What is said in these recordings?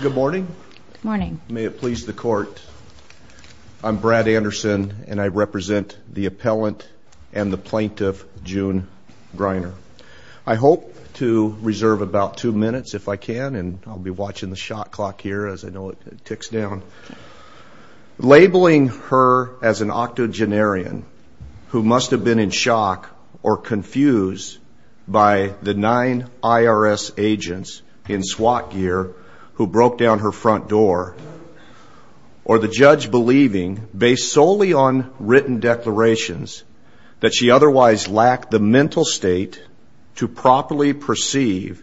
Good morning. May it please the court, I'm Brad Anderson and I represent the appellant and the plaintiff June Greiner. I hope to reserve about two minutes if I can and I'll be watching the shot clock here as I know it ticks down. Labeling her as an octogenarian who must have been in shock or confused by the nine IRS agents in SWAT gear who broke down her front door or the judge believing based solely on written declarations that she otherwise lacked the mental state to properly perceive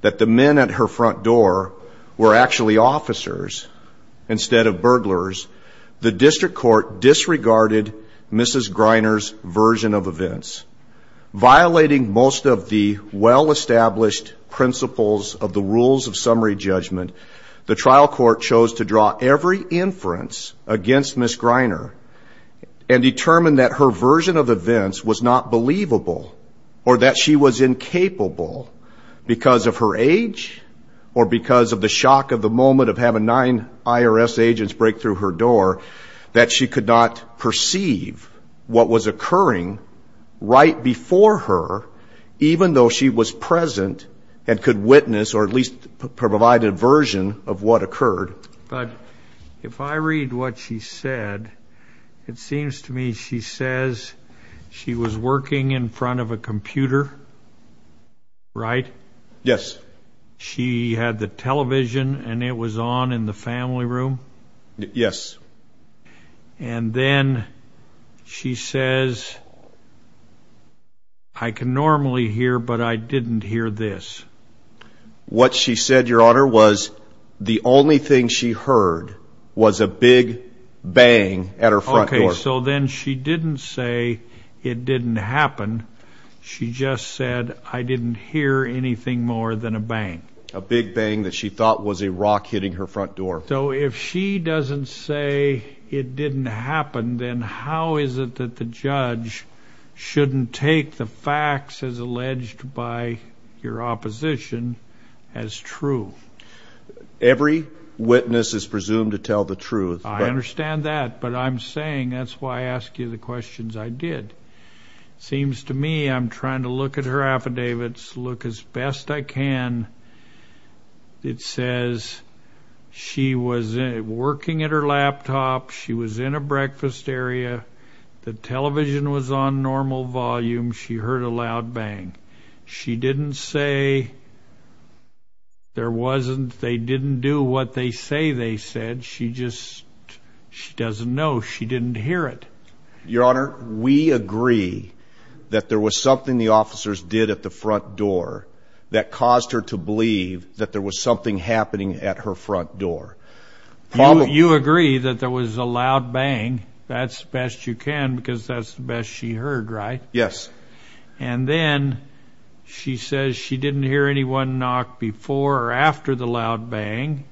that the men at her front door were actually officers instead of burglars, the district court disregarded Mrs. Greiner's version of events. Violating most of the well-established principles of the Rules of Summary Judgment, the trial court chose to draw every inference against Mrs. Greiner and determined that her version of events was not believable or that she was incapable because of her age or because of the shock of the moment of having nine IRS agents break through her door that she could not perceive what was occurring right before her even though she was present and could witness or at least provide a version of what occurred. But if I read what she said it seems to me she says she was working in front of a computer right? Yes. She had the television and it was on in the family room? Yes. And then she says I can normally hear but I didn't hear this. What she said your honor was the only thing she heard was a big bang at her front door. Okay so then she didn't say it didn't happen she just said I didn't hear anything more than a bang. A big bang that she thought was a rock hitting her front door. So if she doesn't say it didn't happen then how is it that the judge shouldn't take the facts as alleged by your opposition as true? Every witness is presumed to tell the truth. I understand that but I'm saying that's why I ask you the questions I did. Seems to me I'm trying to look at her affidavits, look as best I can. It says she was working at her laptop, she was in a breakfast area, the television was on normal volume, she heard a loud bang. She didn't say there wasn't they didn't do what they say they said she just she doesn't know she didn't hear it. Your honor we agree that there was something the officers did at the front door that was something happening at her front door. You agree that there was a loud bang that's the best you can because that's the best she heard right? Yes. And then she says she didn't hear anyone knock before or after the loud bang.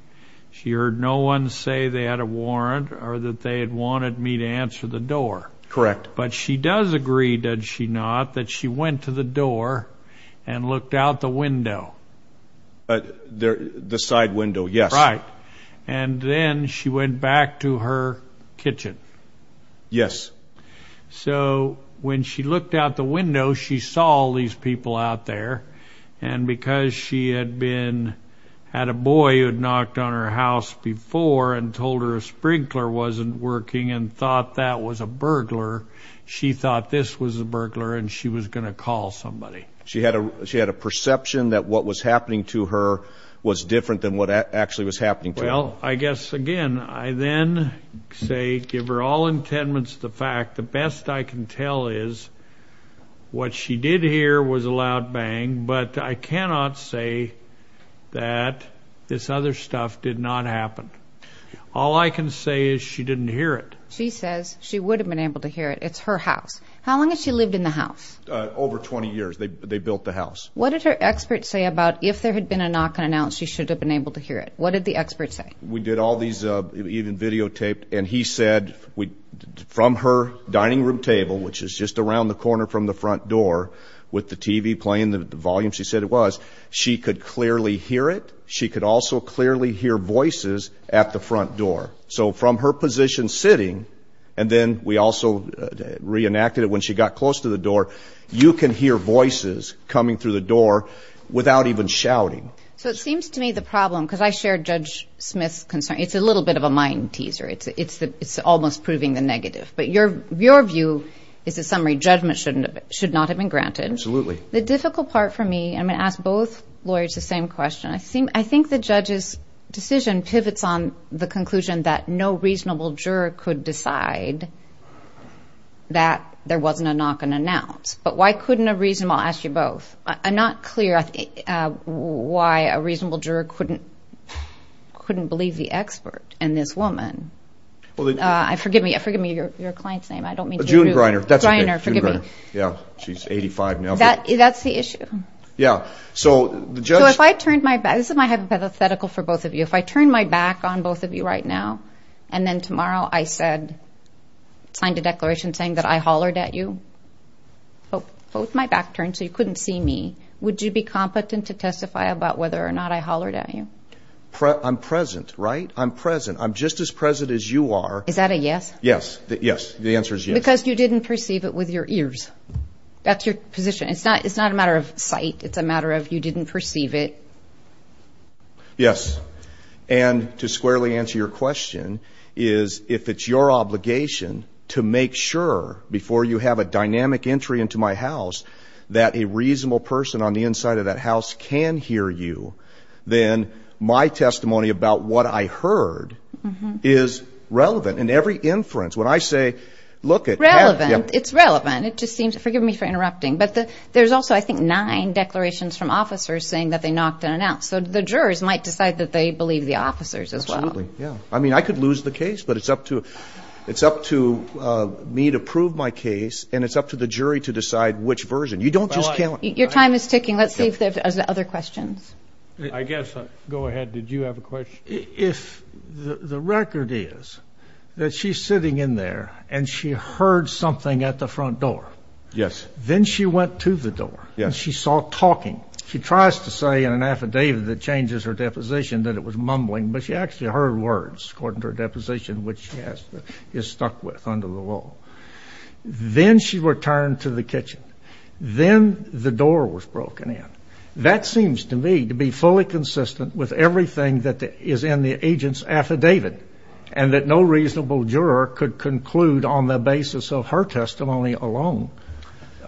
She heard no one say they had a warrant or that they had wanted me to answer the door. Correct. But she does agree did she not that she went to the door and looked out the window. The side window yes. Right and then she went back to her kitchen. Yes. So when she looked out the window she saw all these people out there and because she had been had a boy who had knocked on her house before and told her a sprinkler wasn't working and thought that was a burglar she thought this was a burglar and she was gonna call somebody. She had a she had a perception that what was happening to her was different than what actually was happening. Well I guess again I then say give her all intendments the fact the best I can tell is what she did hear was a loud bang but I cannot say that this other stuff did not happen. All I can say is she didn't hear it. She says she would have been able to hear it it's her house. How long has she lived in the house? Over 20 years they built the house. What did her expert say about if there had been a knock and announced she should have been able to hear it? What did the expert say? We did all these even videotaped and he said we from her dining room table which is just around the corner from the front door with the TV playing the volume she said it was she could clearly hear it she could also clearly hear voices at the front door. So from her position sitting and then we also reenacted it when she got close to the door you can hear voices coming through the door without even shouting. So it seems to me the problem because I shared Judge Smith's concern it's a little bit of a mind teaser it's it's the it's almost proving the negative but your your view is a summary judgment shouldn't should not have been granted. Absolutely. The difficult part for me I'm gonna ask both lawyers the same question I seem I think the judge's decision pivots on the knock and announce but why couldn't a reasonable I'll ask you both I'm not clear why a reasonable juror couldn't couldn't believe the expert and this woman. Well I forgive me I forgive me your client's name I don't mean to. June Greiner. Yeah she's 85 now. That that's the issue. Yeah so the judge. So if I turned my back this is my hypothetical for both of you if I turn my back on both of you right now and then tomorrow I said signed a declaration saying that I both my back turned so you couldn't see me would you be competent to testify about whether or not I hollered at you? I'm present right I'm present I'm just as present as you are. Is that a yes? Yes yes the answer is yes. Because you didn't perceive it with your ears that's your position it's not it's not a matter of sight it's a matter of you didn't perceive it. Yes and to squarely answer your question is if it's your obligation to make sure before you have a dynamic entry into my house that a reasonable person on the inside of that house can hear you then my testimony about what I heard is relevant in every inference when I say look at. Relevant it's relevant it just seems it forgive me for interrupting but the there's also I think nine declarations from officers saying that they knocked in and out so the jurors might decide that they believe the officers as well. Yeah I mean I could lose the case but it's up to it's up to me to prove my case and it's up to the jury to decide which version you don't just count. Your time is ticking let's see if there's other questions. I guess go ahead did you have a question? If the record is that she's sitting in there and she heard something at the front door. Yes. Then she went to the door. Yes. She saw talking she tries to say in an affidavit that changes her deposition that it was mumbling but she actually heard words according to her deposition which she has is stuck with under the wall. Then she returned to the kitchen. Then the door was broken in. That seems to me to be fully consistent with everything that is in the agent's affidavit and that no reasonable juror could conclude on the basis of her testimony alone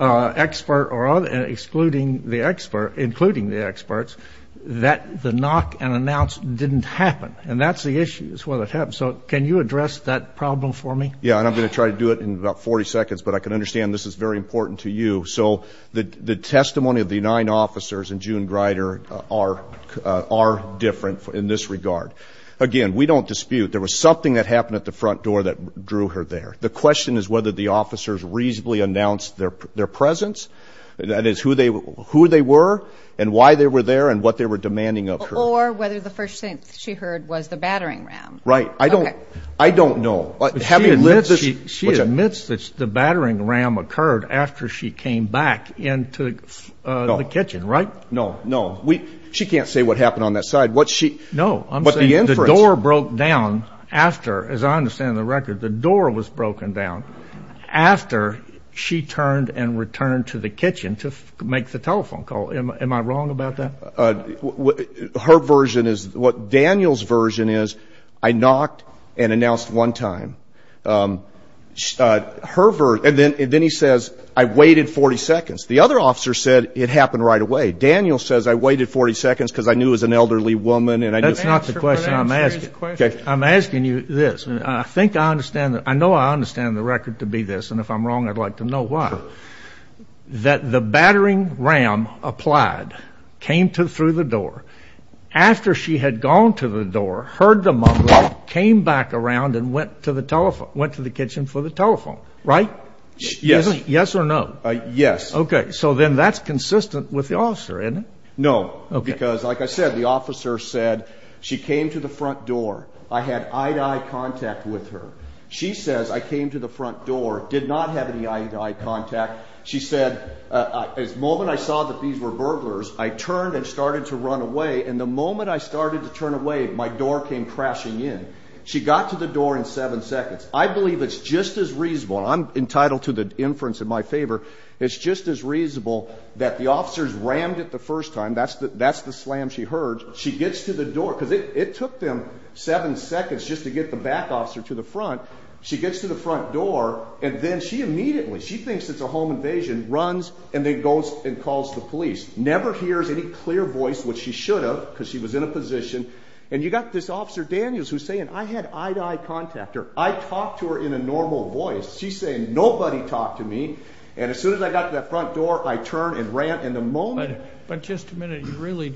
expert or other excluding the expert including the experts that the knock and announce didn't happen and that's the issue is what it happened so can you address that problem for me? Yeah and I'm gonna try to do it in about 40 seconds but I can understand this is very important to you so the the testimony of the nine officers and June Greider are are different in this regard. Again we don't dispute there was something that happened at the front door that drew her there. The question is whether the officers reasonably announced their their presence that is who they were and why they were there and what they were demanding of her. Or whether the first thing she heard was the battering ram. Right I don't I don't know. She admits that the battering ram occurred after she came back into the kitchen right? No no we she can't say what happened on that side what she no I'm saying the door broke down after as I understand the record the door was make the telephone call am I wrong about that? Her version is what Daniel's version is I knocked and announced one time. Her verse and then and then he says I waited 40 seconds the other officer said it happened right away Daniel says I waited 40 seconds because I knew as an elderly woman and I that's not the question I'm asking okay I'm asking you this I think I understand that I know I understand the record to be this and if I'm wrong I'd like to know why. That the battering ram applied came to through the door after she had gone to the door heard the mumbling came back around and went to the telephone went to the kitchen for the telephone right? Yes. Yes or no? Yes. Okay so then that's consistent with the officer isn't it? No because like I said the officer said she came to the front door I had eye-to-eye contact with her she says I came to the moment I saw that these were burglars I turned and started to run away and the moment I started to turn away my door came crashing in she got to the door in seven seconds I believe it's just as reasonable I'm entitled to the inference in my favor it's just as reasonable that the officers rammed it the first time that's the that's the slam she heard she gets to the door because it took them seven seconds just to get the back officer to the front she gets to the front door and then she immediately she thinks it's a home invasion runs and it goes and calls the police never hears any clear voice which she should have because she was in a position and you got this officer Daniels who's saying I had eye-to-eye contact her I talked to her in a normal voice she's saying nobody talked to me and as soon as I got to that front door I turned and ran and the moment but just a minute you really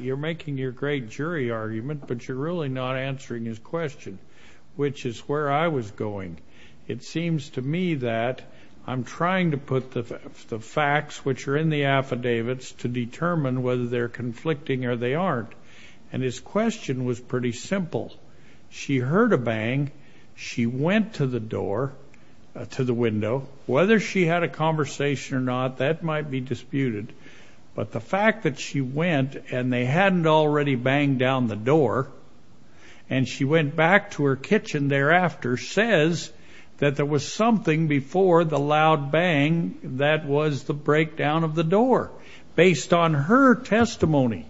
you're making your great jury argument but you're really not answering his question which is where I was going it seems to me that I'm trying to put the facts which are in the affidavits to determine whether they're conflicting or they aren't and his question was pretty simple she heard a bang she went to the door to the window whether she had a conversation or not that might be disputed but the fact that she went and they hadn't already banged down the door and she went back to her kitchen thereafter says that there was something before the loud bang that was the breakdown of the door based on her testimony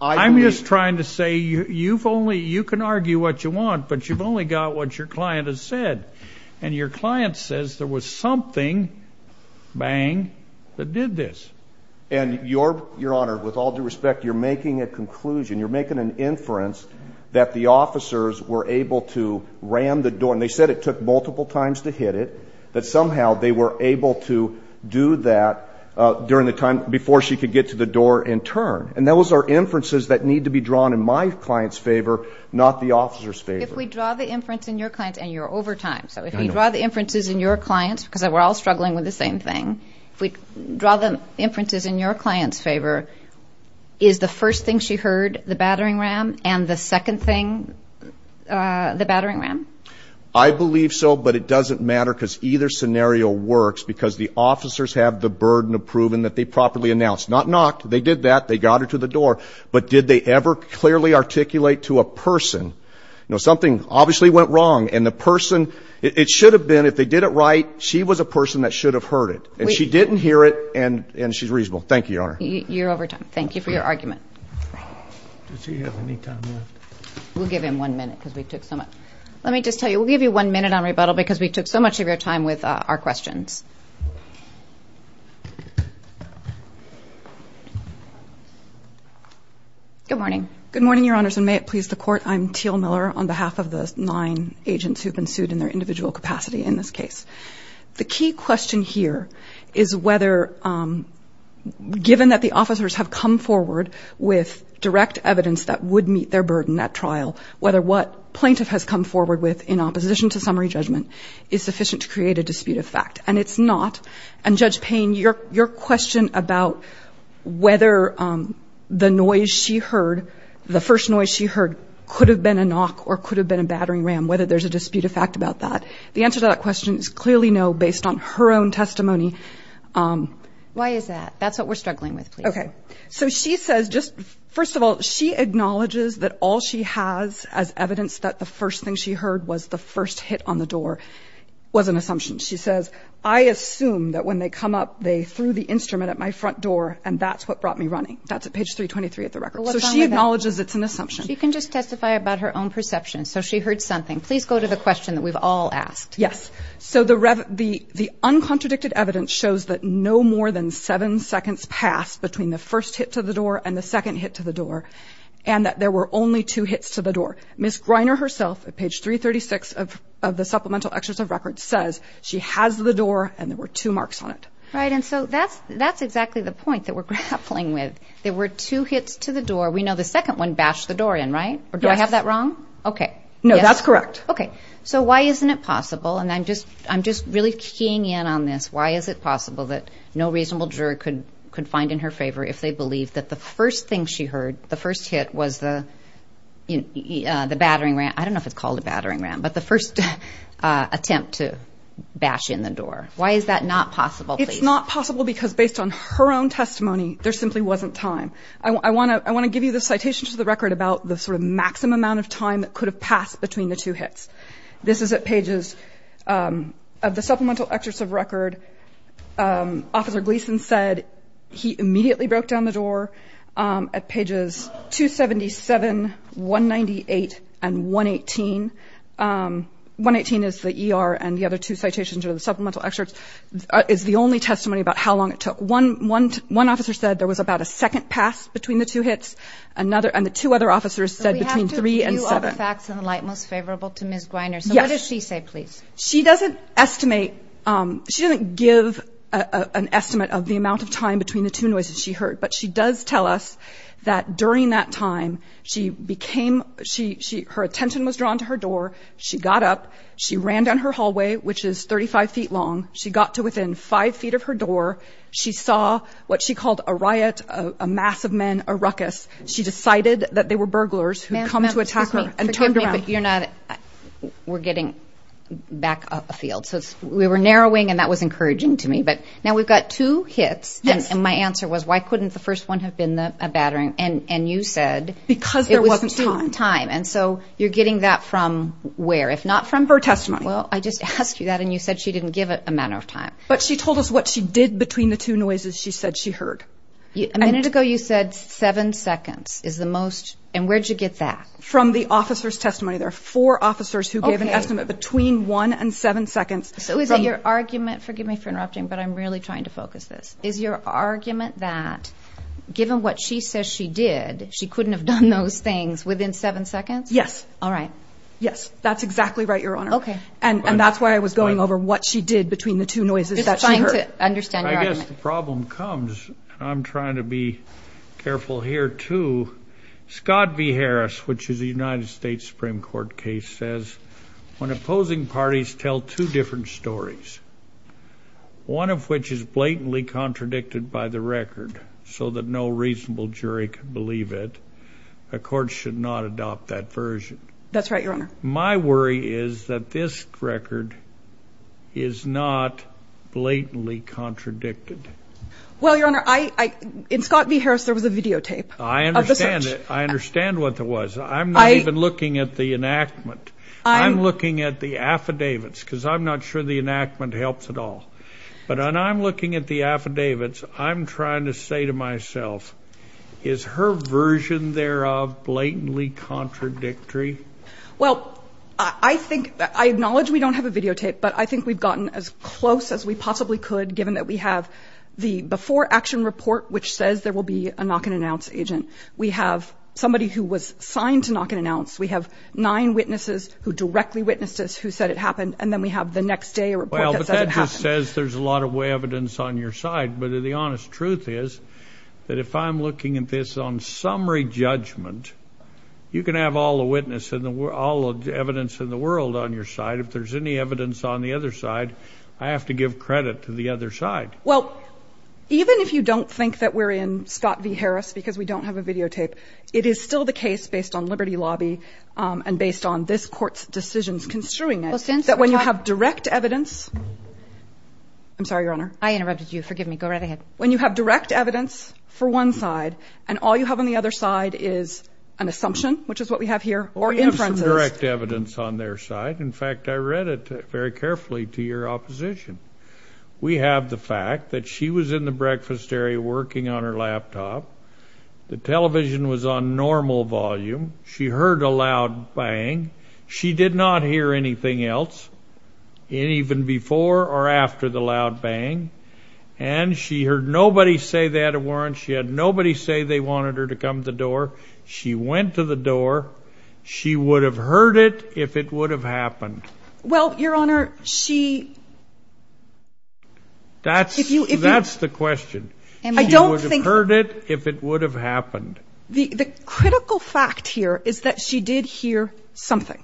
I'm just trying to say you you've only you can argue what you want but you've only got what your client has said and your client says there was something bang that did this and your your honor with all due respect you're making a conclusion you're making an officers were able to ram the door and they said it took multiple times to hit it that somehow they were able to do that during the time before she could get to the door and turn and that was our inferences that need to be drawn in my clients favor not the officers favorite we draw the inference in your client and you're over time so if you draw the inferences in your clients because we're all struggling with the same thing if we draw them inferences in your clients favor is the first thing she heard the battering ram and the the battering ram I believe so but it doesn't matter because either scenario works because the officers have the burden of proven that they properly announced not knocked they did that they got her to the door but did they ever clearly articulate to a person you know something obviously went wrong and the person it should have been if they did it right she was a person that should have heard it and she didn't hear it and and she's reasonable thank you your over time thank you for your argument we'll give him one minute because we took so much let me just tell you we'll give you one minute on rebuttal because we took so much of your time with our questions good morning good morning your honors and may it please the court I'm teal Miller on behalf of the nine agents who've been sued in their individual capacity in this case the key question here is whether given that the officers have come forward with direct evidence that would meet their burden that trial whether what plaintiff has come forward with in opposition to summary judgment is sufficient to create a dispute of fact and it's not and judge Payne your your question about whether the noise she heard the first noise she heard could have been a knock or could have been a battering ram whether there's a dispute of fact about that the answer to that question is clearly no based on her own testimony why is that that's what we're struggling with okay so she says just first of all she acknowledges that all she has as evidence that the first thing she heard was the first hit on the door was an assumption she says I assume that when they come up they threw the instrument at my front door and that's what brought me running that's a page 323 at the record so she acknowledges it's an assumption you can just testify about her own perception so she heard something please go to the so the rev the the uncontradicted evidence shows that no more than seven seconds passed between the first hit to the door and the second hit to the door and that there were only two hits to the door miss Greiner herself at page 336 of the supplemental extras of record says she has the door and there were two marks on it right and so that's that's exactly the point that we're grappling with there were two hits to the door we know the second one bashed the door in right or do I have that wrong okay no that's correct okay so why isn't it just I'm just really keying in on this why is it possible that no reasonable juror could could find in her favor if they believe that the first thing she heard the first hit was the the battering ram I don't know if it's called a battering ram but the first attempt to bash in the door why is that not possible it's not possible because based on her own testimony there simply wasn't time I want to I want to give you the citation to the record about the sort of maximum amount of time that could have passed between the two hits this is at pages of the supplemental extras of record officer Gleason said he immediately broke down the door at pages 277 198 and 118 118 is the ER and the other two citations are the supplemental excerpts is the only testimony about how long it took one one one officer said there was about a second pass between the two hits another and the two other officers said between three and seven most favorable to miss Griner so what does she say please she doesn't estimate she didn't give an estimate of the amount of time between the two noises she heard but she does tell us that during that time she became she her attention was drawn to her door she got up she ran down her hallway which is 35 feet long she got to within five feet of her door she saw what she called a riot a mass of men a ruckus she decided that they were burglars who come to attack but you're not we're getting back up a field so we were narrowing and that was encouraging to me but now we've got two hits and my answer was why couldn't the first one have been the battering and and you said because there wasn't time and so you're getting that from where if not from her testimony well I just asked you that and you said she didn't give it a matter of time but she told us what she did between the two noises she said she heard a minute ago you said seven seconds is the most and where'd you get that from the officer's testimony there are four officers who gave an estimate between one and seven seconds so is it your argument forgive me for interrupting but I'm really trying to focus this is your argument that given what she says she did she couldn't have done those things within seven seconds yes all right yes that's exactly right your honor okay and and that's why I was going over what she did between the two noises that trying to understand the problem comes I'm trying to be careful here to Scott v. Harris which is a United States Supreme Court case says when opposing parties tell two different stories one of which is blatantly contradicted by the record so that no reasonable jury could believe it a court should not adopt that version that's right your honor my worry is that this record is not blatantly contradicted well your honor I in Scott v. Harris there was a videotape I understand it I understand what that was I'm not even looking at the enactment I'm looking at the affidavits because I'm not sure the enactment helps at all but on I'm looking at the affidavits I'm trying to say to myself is her version thereof blatantly contradictory well I think I acknowledge we don't have a videotape but I think we've gotten as close as we possibly could given that we have the before-action report which says there will be a knock-and-announce agent we have somebody who was signed to knock and announce we have nine witnesses who directly witnessed us who said it happened and then we have the next day or well but that just says there's a lot of way evidence on your side but the honest truth is that if I'm looking at this on summary judgment you can have all the witness in the world of the evidence in the world on your side if there's any evidence on the other side I have to give credit to the other side well even if you don't think that we're in Scott v Harris because we don't have a videotape it is still the case based on Liberty Lobby and based on this court's decisions construing it since that when you have direct evidence I'm sorry your honor I interrupted you forgive me go right ahead when you have direct evidence for one side and all you have on the other side is an assumption which is what we have here or in front direct evidence on their side in fact I read it very carefully to your opposition we have the fact that she was in the breakfast area working on her laptop the television was on normal volume she heard a loud bang she did not hear anything else even before or after the loud bang and she heard nobody say that it weren't she had nobody say they wanted her to come to the door she went to the door she would have heard it if it would have happened well your honor she that's if you if that's the question and I don't think heard it if it would have happened the critical fact here is that she did hear something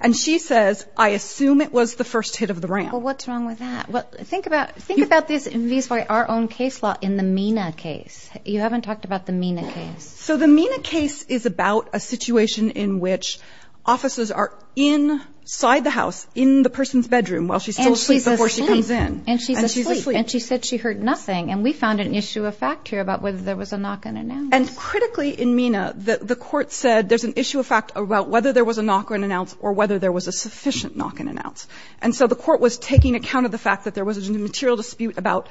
and she says I assume it was the first hit of the ram what's wrong with that what think about think about this in these by our own case law in the Mina case you haven't talked about the Mina case so the Mina case is about a situation in which offices are in side the house in the person's bedroom while she's actually before she comes in and she's asleep and she said she heard nothing and we found an issue of fact here about whether there was a knock and announce and critically in Mina that the court said there's an issue of fact about whether there was a knock or an announce or whether there was a sufficient knock and announce and so the court was taking account of the fact that there was a material dispute about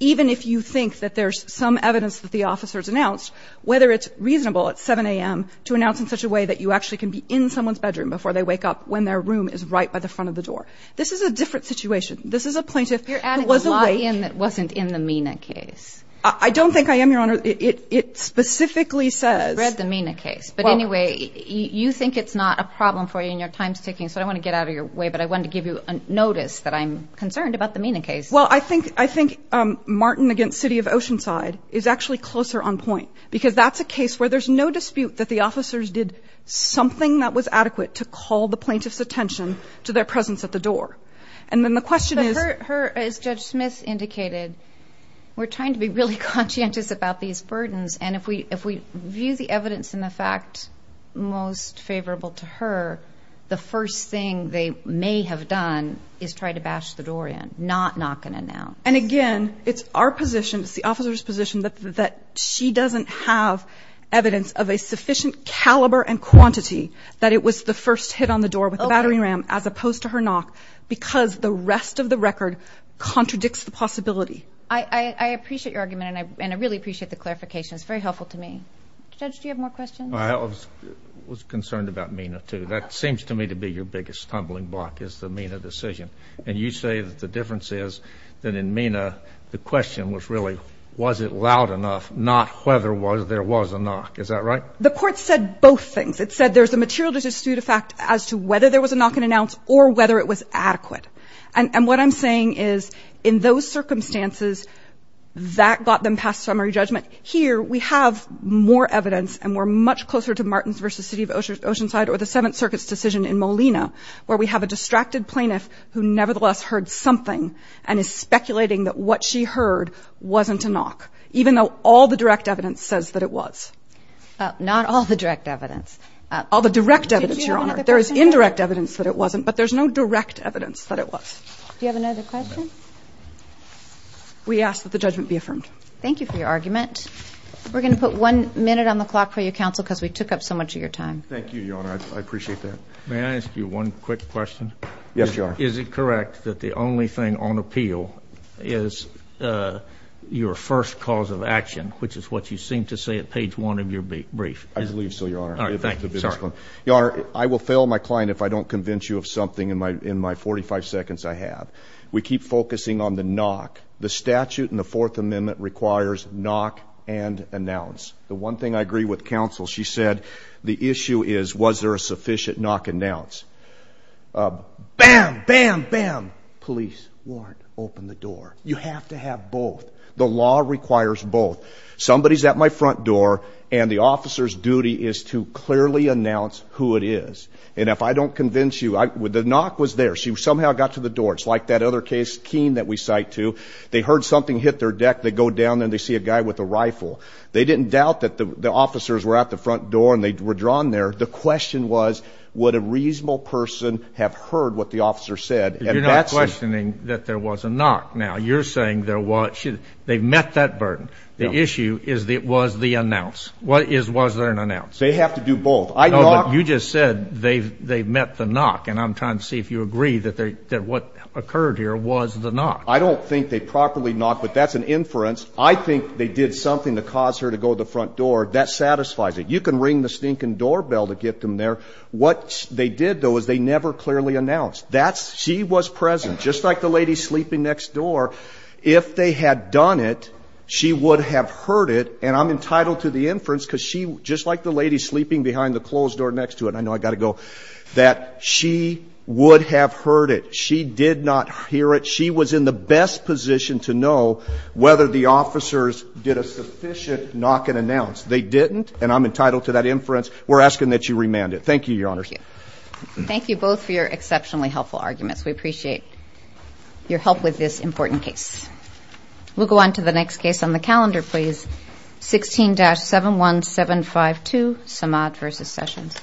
even if you think that there's some evidence that the officers announced whether it's reasonable at 7 a.m. to announce in such a way that you actually can be in someone's bedroom before they wake up when their room is right by the front of the door this is a different situation this is a plaintiff you're adding was a way in that wasn't in the Mina case I don't think I am your honor it specifically says read the Mina case but anyway you think it's not a problem for you in your time sticking so I want to get out of your way but I wanted to give you a notice that I'm concerned about the Mina case well I think I think Martin against City of Oceanside is actually closer on point because that's a case where there's no dispute that the something that was adequate to call the plaintiff's attention to their presence at the door and then the question is her as Judge Smith indicated we're trying to be really conscientious about these burdens and if we if we view the evidence in the fact most favorable to her the first thing they may have done is try to bash the door in not knocking it now and again it's our position it's the officers position that that she doesn't have evidence of a sufficient caliber and quantity that it was the first hit on the door with a battery ram as opposed to her knock because the rest of the record contradicts the possibility I appreciate your argument and I really appreciate the clarification it's very helpful to me judge do you have more questions I was concerned about Mina too that seems to me to be your biggest tumbling block is the Mina decision and you say that the difference is that in Mina the question was really was it loud enough not whether was there was a knock is that right the court said both things it said there's a material dispute a fact as to whether there was a knock and announce or whether it was adequate and and what I'm saying is in those circumstances that got them past summary judgment here we have more evidence and we're much closer to Martins versus City of Oceanside or the Seventh Circuit's decision in Molina where we have a distracted plaintiff who nevertheless heard something and is speculating that what she heard wasn't a knock even though all the direct evidence says that it was not all the direct evidence all the direct evidence your honor there is indirect evidence that it wasn't but there's no direct evidence that it was do you have another question we ask that the judgment be affirmed thank you for your argument we're gonna put one minute on the clock for you counsel because we took up so much of your time thank you your honor I appreciate that may I ask you one quick question yes you are is it correct that the only thing on appeal is your first cause of action which is what you seem to say at page one of your brief I believe so your honor thank you sir your honor I will fail my client if I don't convince you of something in my in my 45 seconds I have we keep focusing on the knock the statute and the Fourth Amendment requires knock and announce the one thing I agree with counsel she said the issue is was there a sufficient knock announce bam bam bam police warrant open the door you have to have both the law requires both somebody's at my front door and the officers duty is to clearly announce who it is and if I don't convince you I would the knock was there she somehow got to the door it's like that other case keen that we cite to they heard something hit their deck they go down and they see a guy with a rifle they didn't doubt that the officers were at the front door and they were drawn there the question was would a reasonable person have heard what the officer said and that's questioning that there was a knock now you're saying there was they met that burden the issue is that was the announce what is was there an announce they have to do both I know you just said they've they met the knock and I'm trying to see if you agree that they did what occurred here was the knock I don't think they properly knock but that's an inference I think they did something to cause her to go to the front door that satisfies it you can ring the stinking doorbell to get them there what they did though is they never clearly announced that's she was present just like the lady sleeping next door if they had done it she would have heard it and I'm entitled to the inference because she just like the lady sleeping behind the closed door next to it I know I got to go that she would have heard it she did not hear it she was in the best position to know whether the officers did a sufficient knock and announce they didn't and I'm entitled to that inference we're asking that you remanded thank you your honor thank you both for your exceptionally helpful arguments we appreciate your help with this important case we'll go on to the next case on the calendar please 16-71752 Samad versus Sessions